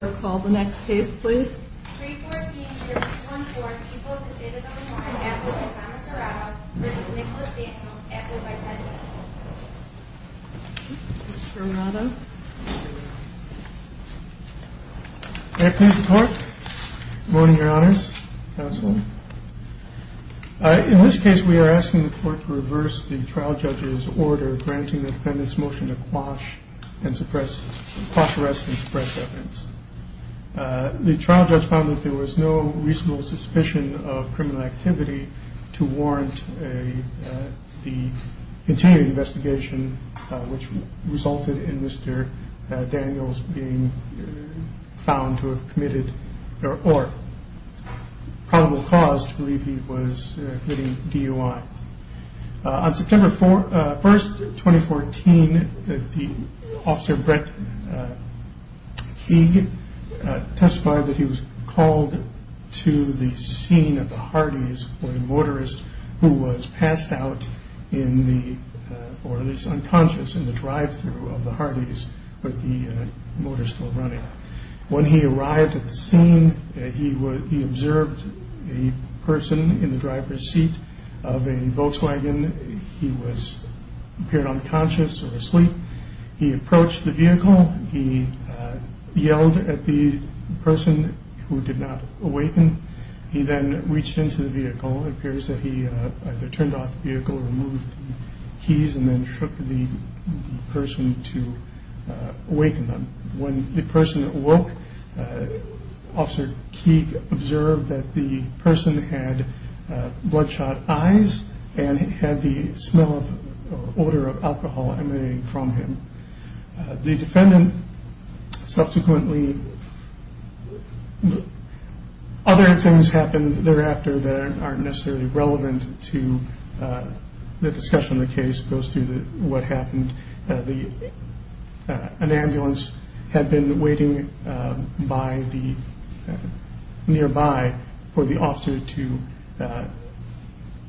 The next case please. 314-214, people of the state of Oklahoma, and members of the town of Serrano, residents of Nicola State and the most affluent by 10 years old. Ms. Serrano. May I please report? Good morning, your honors. Counselor. In this case, we are asking the court to reverse the trial judge's order granting the defendant's motion to quash and suppress, quash arrest and suppress evidence. The trial judge found that there was no reasonable suspicion of criminal activity to warrant the continuing investigation, which resulted in Mr. Daniels being found to have committed, or probable cause to believe he was committing DUI. On September 1st, 2014, the officer Brett Higg testified that he was called to the scene at the Hardee's where a motorist who was passed out in the, or at least unconscious in the drive-thru of the Hardee's, but the motor still running. When he arrived at the scene, he observed a person in the driver's seat of a Volkswagen. He appeared unconscious or asleep. He approached the vehicle. He yelled at the person who did not awaken. He then reached into the vehicle. It appears that he either turned off the vehicle or removed the keys and then shook the person to awaken them. When the person awoke, Officer Higg observed that the person had bloodshot eyes and had the smell or odor of alcohol emanating from him. The defendant subsequently, other things happened thereafter that aren't necessarily relevant to the discussion of the case. It goes through what happened. An ambulance had been waiting nearby for the officer to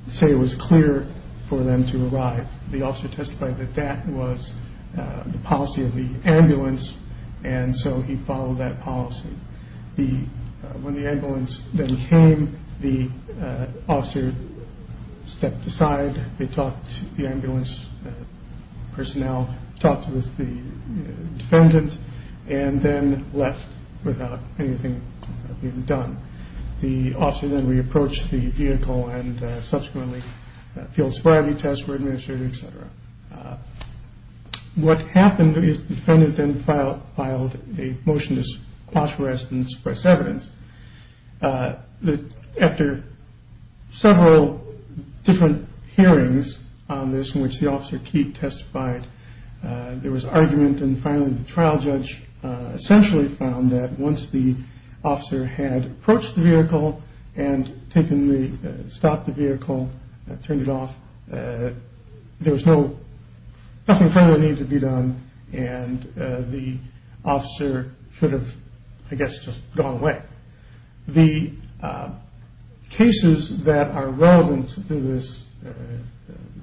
say it was clear for them to arrive. The officer testified that that was the policy of the ambulance, and so he followed that policy. When the ambulance then came, the officer stepped aside. The ambulance personnel talked with the defendant and then left without anything being done. The officer then re-approached the vehicle and subsequently field sobriety tests were administered, etc. What happened is the defendant then filed a motion to quash arrest and suppress evidence. After several different hearings on this in which the officer testified, there was argument and finally the trial judge essentially found that once the officer had approached the vehicle and stopped the vehicle, turned it off, there was nothing further that needed to be done and the officer should have, I guess, just gone away. The cases that are relevant to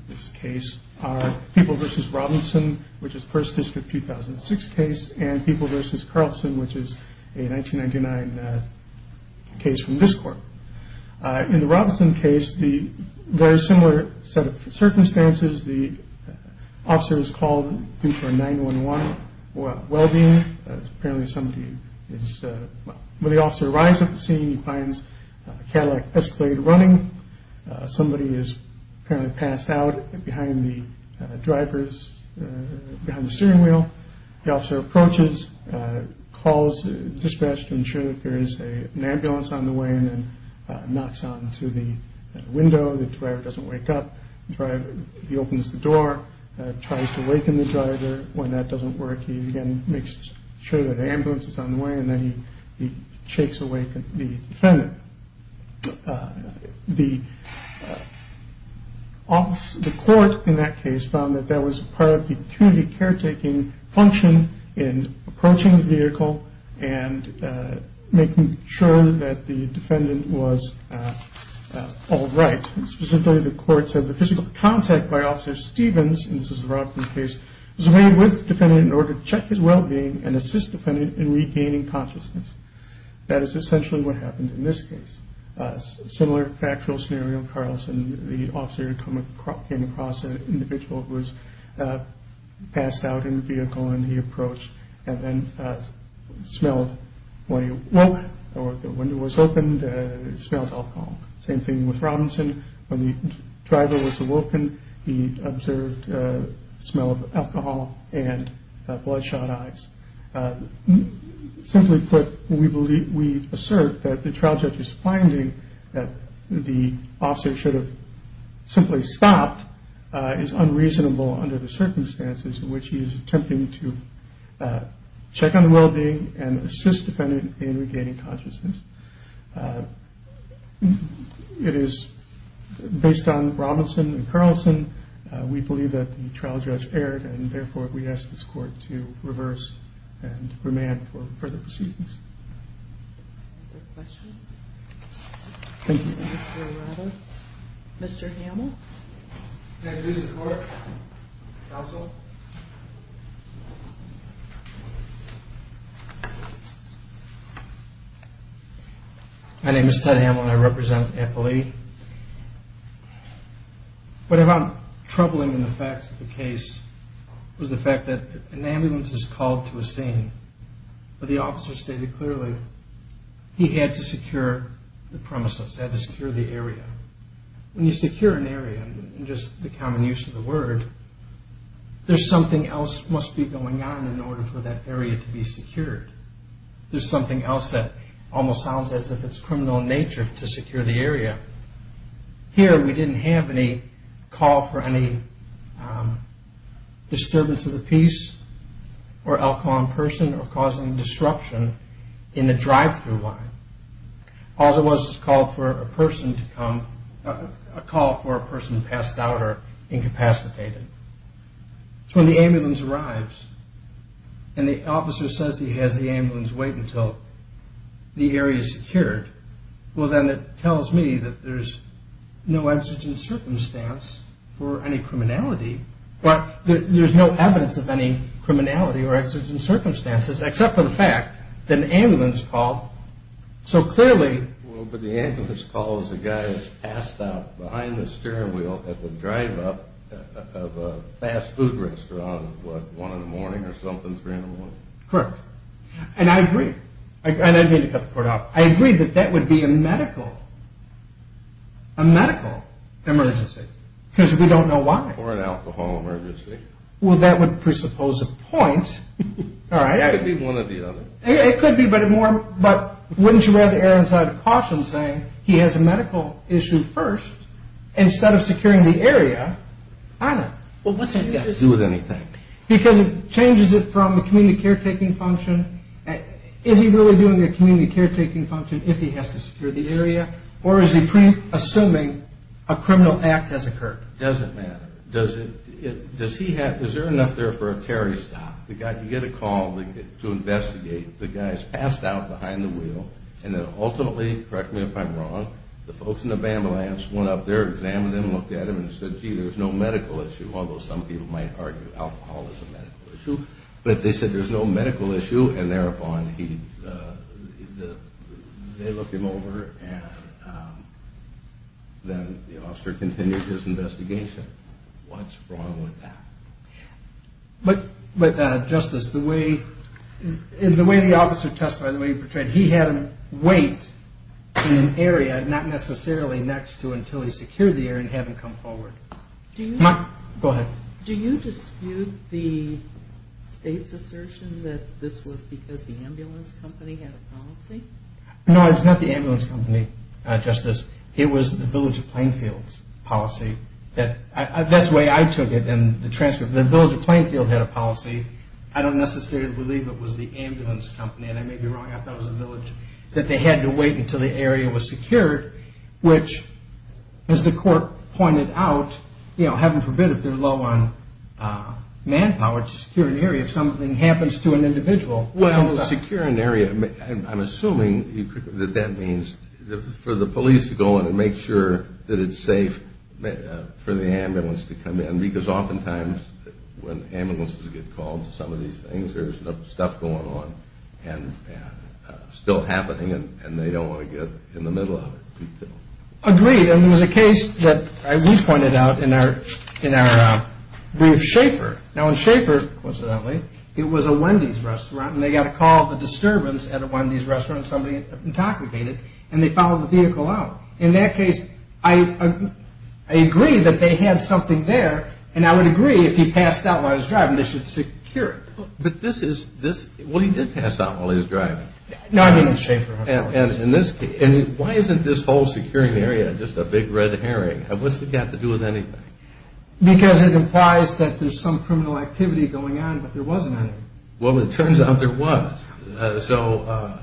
this case are People v. Robinson, which is First District 2006 case, and People v. Carlson, which is a 1999 case from this court. In the Robinson case, the very similar set of circumstances. The officer is called due for a 911 well-being. Apparently, when the officer arrives at the scene, he finds a Cadillac Escalade running. Somebody is apparently passed out behind the drivers, behind the steering wheel. The officer approaches, calls dispatch to ensure that there is an ambulance on the way and then knocks onto the window. The driver doesn't wake up. He opens the door, tries to waken the driver. When that doesn't work, he again makes sure that an ambulance is on the way and then he shakes awake the defendant. The court in that case found that that was part of the community caretaking function in approaching the vehicle and making sure that the defendant was all right. Specifically, the court said the physical contact by Officer Stevens, and this is the Robinson case, was made with the defendant in order to check his well-being and assist the defendant in regaining consciousness. That is essentially what happened in this case. Similar factual scenario in Carlson. The officer came across an individual who was passed out in the vehicle and he approached and then smelled when he awoke or when the window was opened, he smelled alcohol. Same thing with Robinson. When the driver was awoken, he observed the smell of alcohol and bloodshot eyes. Simply put, we assert that the trial judge's finding that the officer should have simply stopped is unreasonable under the circumstances in which he is attempting to check on the well-being and assist the defendant in regaining consciousness. It is based on Robinson and Carlson. We believe that the trial judge erred and therefore we ask this court to reverse and remand for further proceedings. Are there questions? Thank you. Mr. Arado. Mr. Hamel. May I introduce the court? Counsel. My name is Ted Hamel and I represent the appellee. What I found troubling in the facts of the case was the fact that an ambulance is called to a scene but the officer stated clearly he had to secure the premises, had to secure the area. When you secure an area, just the common use of the word, there's something else must be going on in order for that area to be secured. There's something else that almost sounds as if it's criminal in nature to secure the area. Here we didn't have any call for any disturbance of the peace or alcohol in person or causing disruption in the drive-through line. All there was was a call for a person to come, a call for a person passed out or incapacitated. So when the ambulance arrives and the officer says he has the ambulance wait until the area is secured, well then it tells me that there's no exigent circumstance for any criminality. There's no evidence of any criminality or exigent circumstances except for the fact that an ambulance called. So clearly... Well, but the ambulance calls the guy that's passed out behind the steering wheel at the drive-up of a fast food restaurant at what, 1 in the morning or something, 3 in the morning? Correct. And I agree. And I didn't mean to cut the court off. I agree that that would be a medical emergency because we don't know why. Or an alcohol emergency. Well, that would presuppose a point. That could be one or the other. It could be, but wouldn't you rather Aaron's out of caution saying he has a medical issue first instead of securing the area? I don't know. Well, what's he going to do with anything? Because it changes it from a community caretaking function. Is he really doing a community caretaking function if he has to secure the area? Or is he assuming a criminal act has occurred? It doesn't matter. Is there enough there for a Terry stop? You get a call to investigate. The guy's passed out behind the wheel, and then ultimately, correct me if I'm wrong, the folks in the ambulance went up there, examined him, looked at him, and said, gee, there's no medical issue. Although some people might argue alcohol is a medical issue. But they said there's no medical issue, and thereupon they look him over, and then the officer continued his investigation. What's wrong with that? But, Justice, the way the officer testified, the way he portrayed it, he had him wait in an area, not necessarily next to until he secured the area and had him come forward. Go ahead. Do you dispute the state's assertion that this was because the ambulance company had a policy? No, it was not the ambulance company, Justice. It was the Village of Plainfield's policy. That's the way I took it in the transcript. The Village of Plainfield had a policy. I don't necessarily believe it was the ambulance company, and I may be wrong. I thought it was the village, that they had to wait until the area was secured, which, as the court pointed out, you know, heaven forbid, if they're low on manpower to secure an area, if something happens to an individual. Well, secure an area, I'm assuming that that means for the police to go in and make sure that it's safe for the ambulance to come in, because oftentimes when ambulances get called to some of these things, there's stuff going on and still happening, and they don't want to get in the middle of it. Agreed, and there was a case that we pointed out in our brief, Schaefer. Now, in Schaefer, coincidentally, it was a Wendy's restaurant, and they got a call of a disturbance at a Wendy's restaurant, somebody had intoxicated, and they found the vehicle out. In that case, I agree that they had something there, and I would agree if he passed out while he was driving, they should secure it. But this is, this, well, he did pass out while he was driving. No, I didn't. And in this case, why isn't this whole securing the area just a big red herring? What's it got to do with anything? Because it implies that there's some criminal activity going on, but there wasn't any. Well, it turns out there was. So,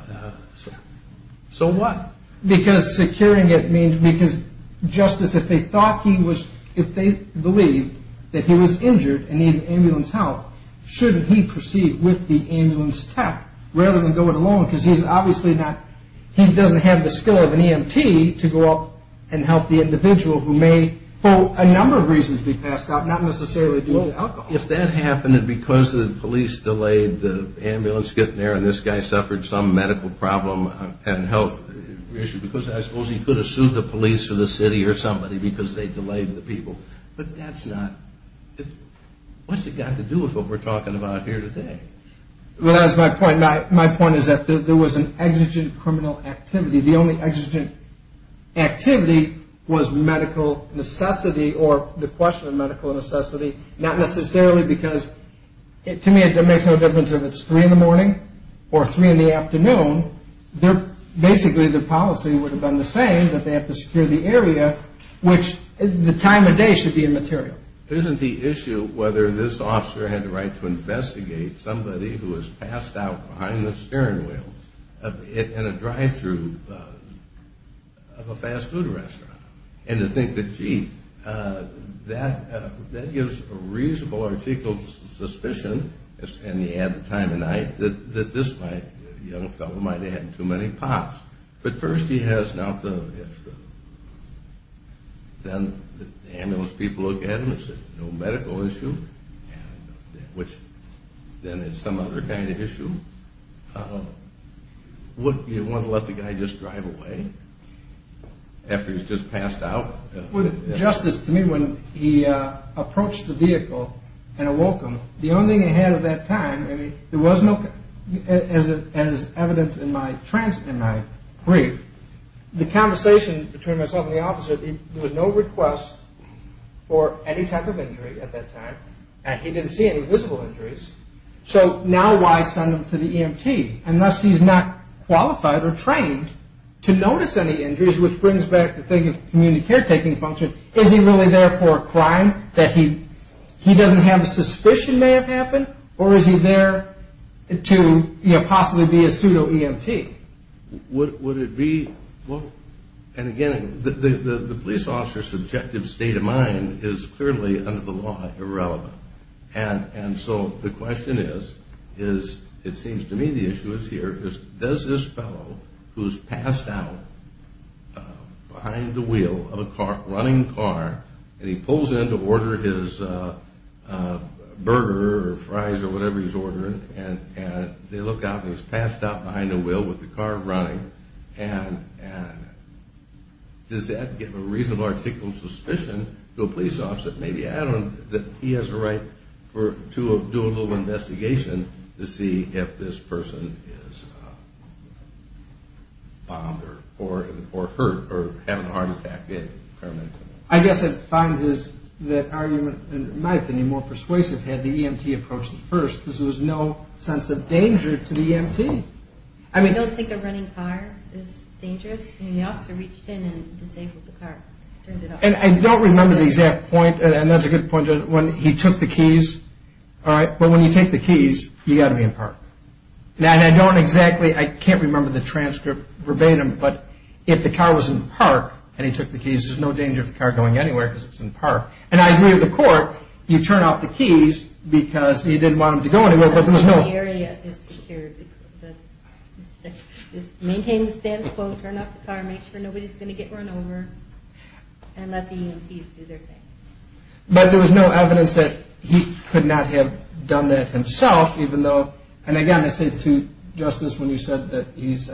so what? Because securing it means, because, Justice, if they thought he was, if they believed that he was injured and needed ambulance help, shouldn't he proceed with the ambulance tech rather than go it alone? Because he's obviously not, he doesn't have the skill of an EMT to go up and help the individual who may, for a number of reasons, be passed out, not necessarily due to alcohol. Well, if that happened, and because the police delayed the ambulance getting there, and this guy suffered some medical problem and health issue, because I suppose he could have sued the police or the city or somebody because they delayed the people. But that's not, what's it got to do with what we're talking about here today? Well, that's my point. My point is that there was an exigent criminal activity. The only exigent activity was medical necessity or the question of medical necessity, not necessarily because, to me, it makes no difference if it's 3 in the morning or 3 in the afternoon. Basically, the policy would have been the same, that they have to secure the area, which the time of day should be immaterial. Isn't the issue whether this officer had the right to investigate somebody who was passed out behind the steering wheel in a drive-through of a fast food restaurant? And to think that, gee, that gives a reasonable, articulate suspicion, and you add the time of night, that this young fellow might have had too many pops. But first he has not the, then the ambulance people look at him and say, no medical issue, which then is some other kind of issue. Would you want to let the guy just drive away after he's just passed out? Justice, to me, when he approached the vehicle and awoke him, the only thing he had at that time, there was no, as evidenced in my brief, the conversation between myself and the officer, there was no request for any type of injury at that time, and he didn't see any visible injuries, so now why send him to the EMT? Unless he's not qualified or trained to notice any injuries, which brings back the thing of community caretaking function, is he really there for a crime that he doesn't have a suspicion may have happened, or is he there to possibly be a pseudo-EMT? Would it be, and again, the police officer's subjective state of mind is clearly under the law irrelevant. And so the question is, it seems to me the issue is here, does this fellow who's passed out behind the wheel of a running car, and he pulls in to order his burger or fries or whatever he's ordering, and they look out, and he's passed out behind the wheel with the car running, and does that give a reasonable article of suspicion to a police officer, maybe add on that he has a right to do a little investigation to see if this person is bombed or hurt or having a heart attack? I guess I'd find that argument, in my opinion, more persuasive had the EMT approach it first because there was no sense of danger to the EMT. I don't think a running car is dangerous. I mean, the officer reached in and disabled the car, turned it off. And I don't remember the exact point, and that's a good point, when he took the keys, all right, but when you take the keys, you've got to be in park. And I don't exactly, I can't remember the transcript verbatim, but if the car was in park and he took the keys, there's no danger of the car going anywhere because it's in park. And I agree with the court. You turn off the keys because you didn't want him to go anywhere. The area is secure. Just maintain the status quo, turn off the car, make sure nobody's going to get run over, and let the EMTs do their thing. But there was no evidence that he could not have done that himself, even though, and again, I said to Justice when you said that he's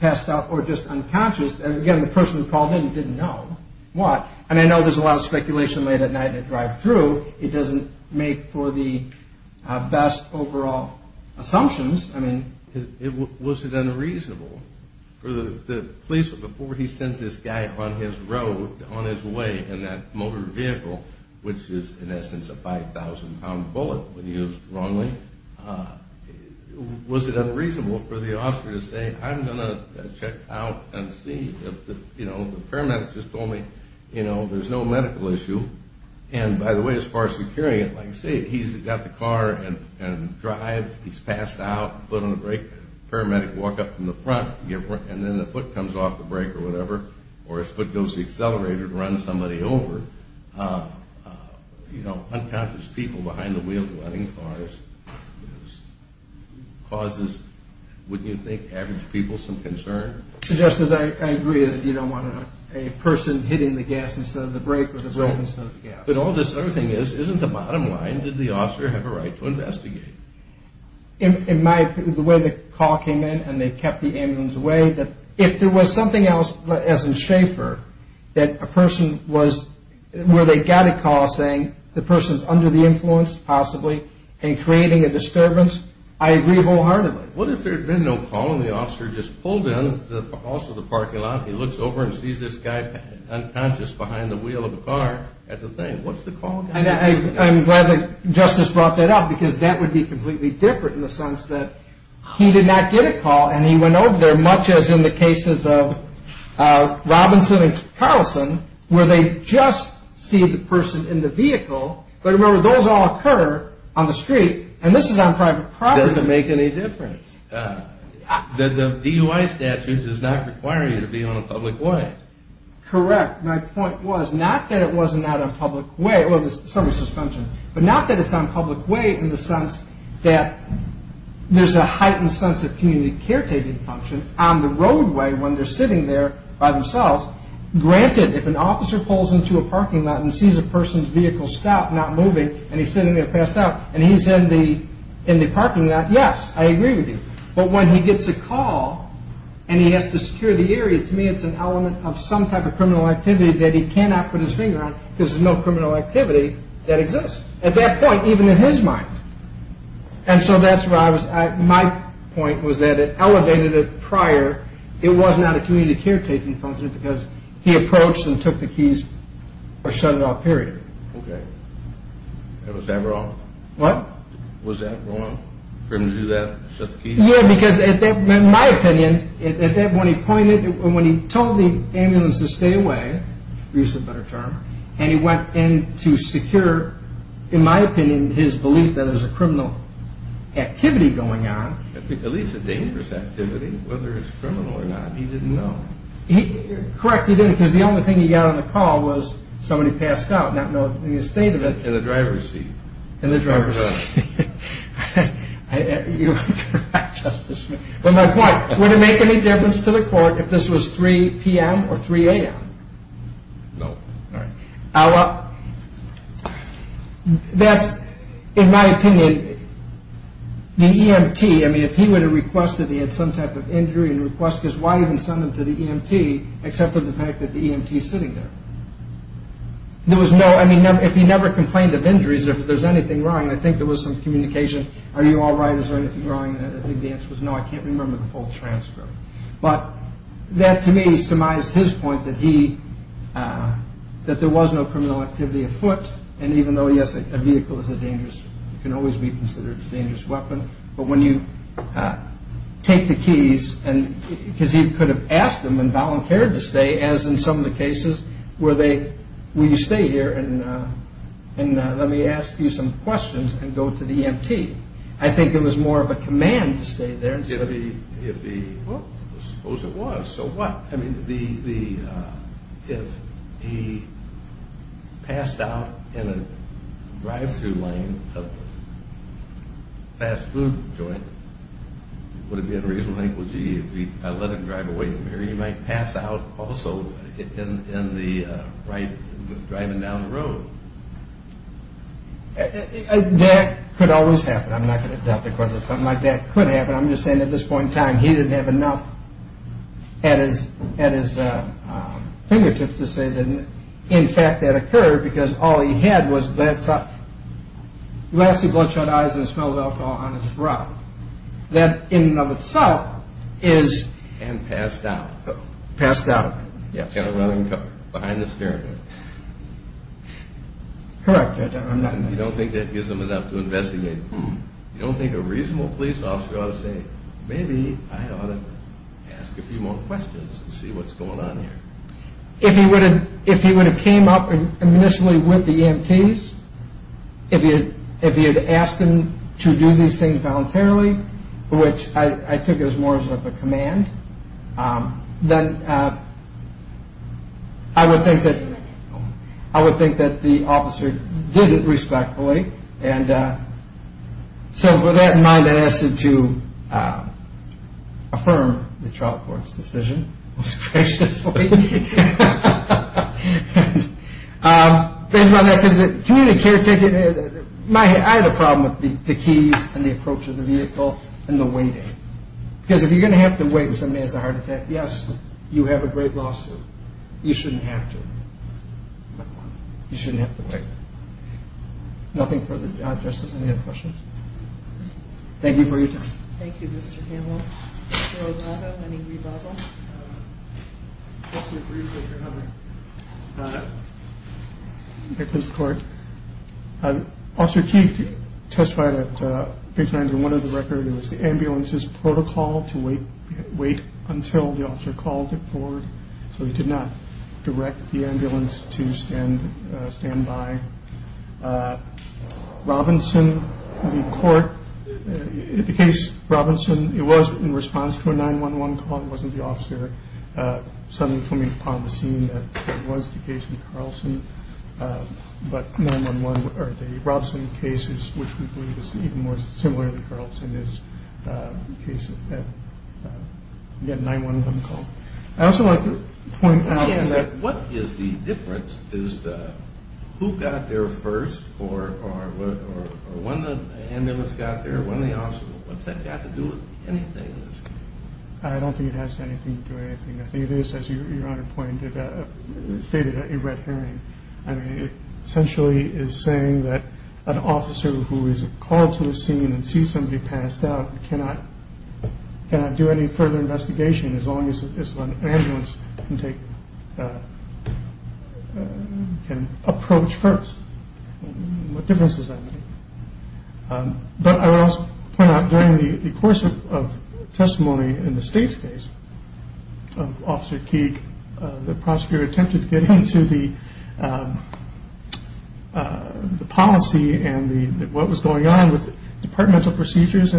passed out or just unconscious, and again, the person who called in didn't know what. I mean, I know there's a lot of speculation late at night in a drive-through. It doesn't make for the best overall assumptions. I mean, was it unreasonable for the police, before he sends this guy on his road, on his way in that motor vehicle, which is, in essence, a 5,000-pound bullet when used wrongly, was it unreasonable for the officer to say, I'm going to check out and see. The paramedic just told me there's no medical issue. And by the way, as far as securing it, like I say, he's got the car and drive. He's passed out, foot on the brake. Paramedic walk up from the front, and then the foot comes off the brake or whatever, or his foot goes to the accelerator to run somebody over. Unconscious people behind the wheel of wedding cars causes, wouldn't you think, average people some concern? Justice, I agree that you don't want a person hitting the gas instead of the brake or the brake instead of the gas. But all this other thing is, isn't the bottom line, did the officer have a right to investigate? In my opinion, the way the call came in and they kept the ambulance away, if there was something else, as in Schaefer, that a person was where they got a call saying the person's under the influence, possibly, and creating a disturbance, I agree wholeheartedly. What if there had been no call and the officer just pulled in to the parking lot, he looks over and sees this guy unconscious behind the wheel of a car at the thing? What's the call going to be? I'm glad that Justice brought that up, because that would be completely different in the sense that he did not get a call and he went over there, much as in the cases of Robinson and Carlson, where they just see the person in the vehicle. But remember, those all occur on the street, and this is on private property. It doesn't make any difference. The DUI statute does not require you to be on a public way. Correct. My point was, not that it was not on public way, well, there's some suspension, but not that it's on public way in the sense that there's a heightened sense of community caretaking function on the roadway when they're sitting there by themselves. Granted, if an officer pulls into a parking lot and sees a person's vehicle stop, not moving, and he's sitting there passed out, and he's in the parking lot, yes, I agree with you. But when he gets a call and he has to secure the area, to me it's an element of some type of criminal activity that he cannot put his finger on, because there's no criminal activity that exists at that point, even in his mind. And so that's where I was at. My point was that it elevated it prior. It was not a community caretaking function because he approached and took the keys or shut it off, period. Okay. Was that wrong? What? Was that wrong for him to do that, shut the keys? Yeah, because in my opinion, at that point he pointed, when he told the ambulance to stay away, to use a better term, and he went in to secure, in my opinion, his belief that there's a criminal activity going on. At least a dangerous activity. Whether it's criminal or not, he didn't know. Correct, he didn't, because the only thing he got on the call was somebody passed out, not knowing the state of it. In the driver's seat. In the driver's seat. You're correct, Justice Smith. But my point, would it make any difference to the court if this was 3 p.m. or 3 a.m.? No. All right. Well, that's, in my opinion, the EMT, I mean, if he would have requested he had some type of injury and request, because why even send him to the EMT except for the fact that the EMT is sitting there? There was no, I mean, if he never complained of injuries, if there's anything wrong, I think there was some communication, are you all right, is there anything wrong, and I think the answer was no, I can't remember the full transcript. But that, to me, surmised his point that there was no criminal activity afoot, and even though, yes, a vehicle is a dangerous, can always be considered a dangerous weapon, but when you take the keys, because he could have asked them and volunteered to stay, as in some of the cases where you stay here and let me ask you some questions and go to the EMT. I think it was more of a command to stay there. Well, suppose it was, so what? I mean, if he passed out in a drive-through lane of a fast food joint, would it be unreasonable to think, gee, if I let him drive away from here, he might pass out also in the right, driving down the road. That could always happen. I'm not going to doubt the court, but something like that could happen. I'm just saying at this point in time, he didn't have enough at his fingertips to say that, in fact, that occurred because all he had was glassy bloodshot eyes and the smell of alcohol on his throat. That, in and of itself, is... And passed out. Passed out. Behind the steering wheel. Correct. You don't think that gives him enough to investigate. You don't think a reasonable police officer ought to say, maybe I ought to ask a few more questions and see what's going on here. If he would have came up initially with the EMTs, if he had asked them to do these things voluntarily, which I think it was more of a command, then I would think that the officer did it respectfully and so with that in mind, I asked him to affirm the trial court's decision, most graciously. I had a problem with the keys and the approach of the vehicle and the waiting. Because if you're going to have to wait and somebody has a heart attack, yes, you have a great lawsuit. You shouldn't have to. You shouldn't have to wait. Nothing further. Justice, any other questions? Thank you for your time. Thank you, Mr. Hanlon. Mr. Arlotto, any rebuttal? Just a brief rebuttal. Thank you, Mr. Court. Officer King testified at page 91 of the record. It was the ambulance's protocol to wait until the officer called it forward. So he did not direct the ambulance to stand by. Robinson, the court, the case Robinson, it was in response to a 911 call. It wasn't the officer suddenly coming upon the scene that was the case in Carlson. But the Robinson case, which we believe is even more similar to Carlson, is a case that had a 911 call. I'd also like to point out that what is the difference is who got there first or when the ambulance got there, when the officer got there. What's that got to do with anything in this case? I don't think it has anything to do with anything. I think it is, as Your Honor pointed out, stated at your red herring. I mean, it essentially is saying that an officer who is called to the scene and sees somebody passed out cannot do any further investigation as long as an ambulance can approach first. What difference does that make? But I would also point out during the course of testimony in the state's case, Officer King, the prosecutor attempted to get into the policy to proceed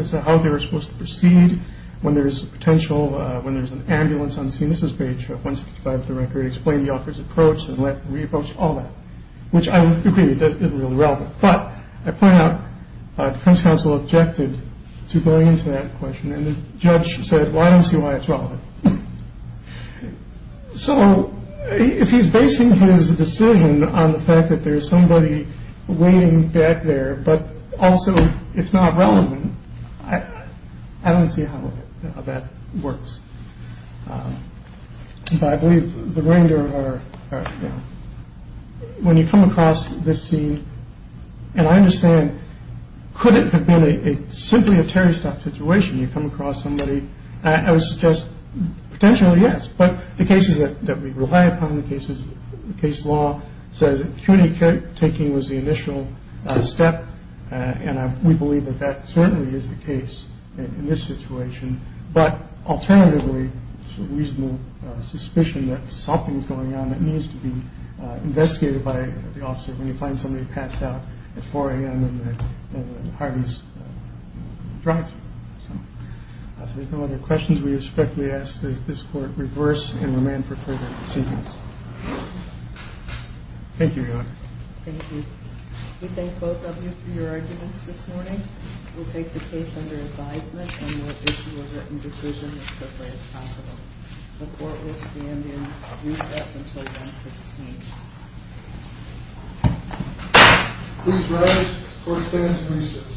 when there's potential, when there's an ambulance on the scene. This is page 165 of the record. He explained the officer's approach and let him re-approach, all that, which I would agree is really relevant. But I point out defense counsel objected to going into that question, and the judge said, well, I don't see why it's relevant. So if he's basing his decision on the fact that there's somebody waiting back there, but also it's not relevant, I don't see how that works. But I believe the remainder are, you know, when you come across this scene, and I understand, could it have been simply a Terry stuff situation? You come across somebody. I would suggest potentially, yes, but the cases that we rely upon, the cases, the case law says acuity taking was the initial step, and we believe that that certainly is the case in this situation. But alternatively, it's a reasonable suspicion that something's going on that needs to be investigated by the officer when you find somebody passed out at 4 a.m. in Harvey's Drive. So if there's no other questions, we respectfully ask that this court reverse and amend for further proceedings. Thank you, Your Honor. Thank you. We thank both of you for your arguments this morning. We'll take the case under advisement, and we'll issue a written decision as quickly as possible. The court will stand in recess until 1 p.m. Please rise. The court stands in recess.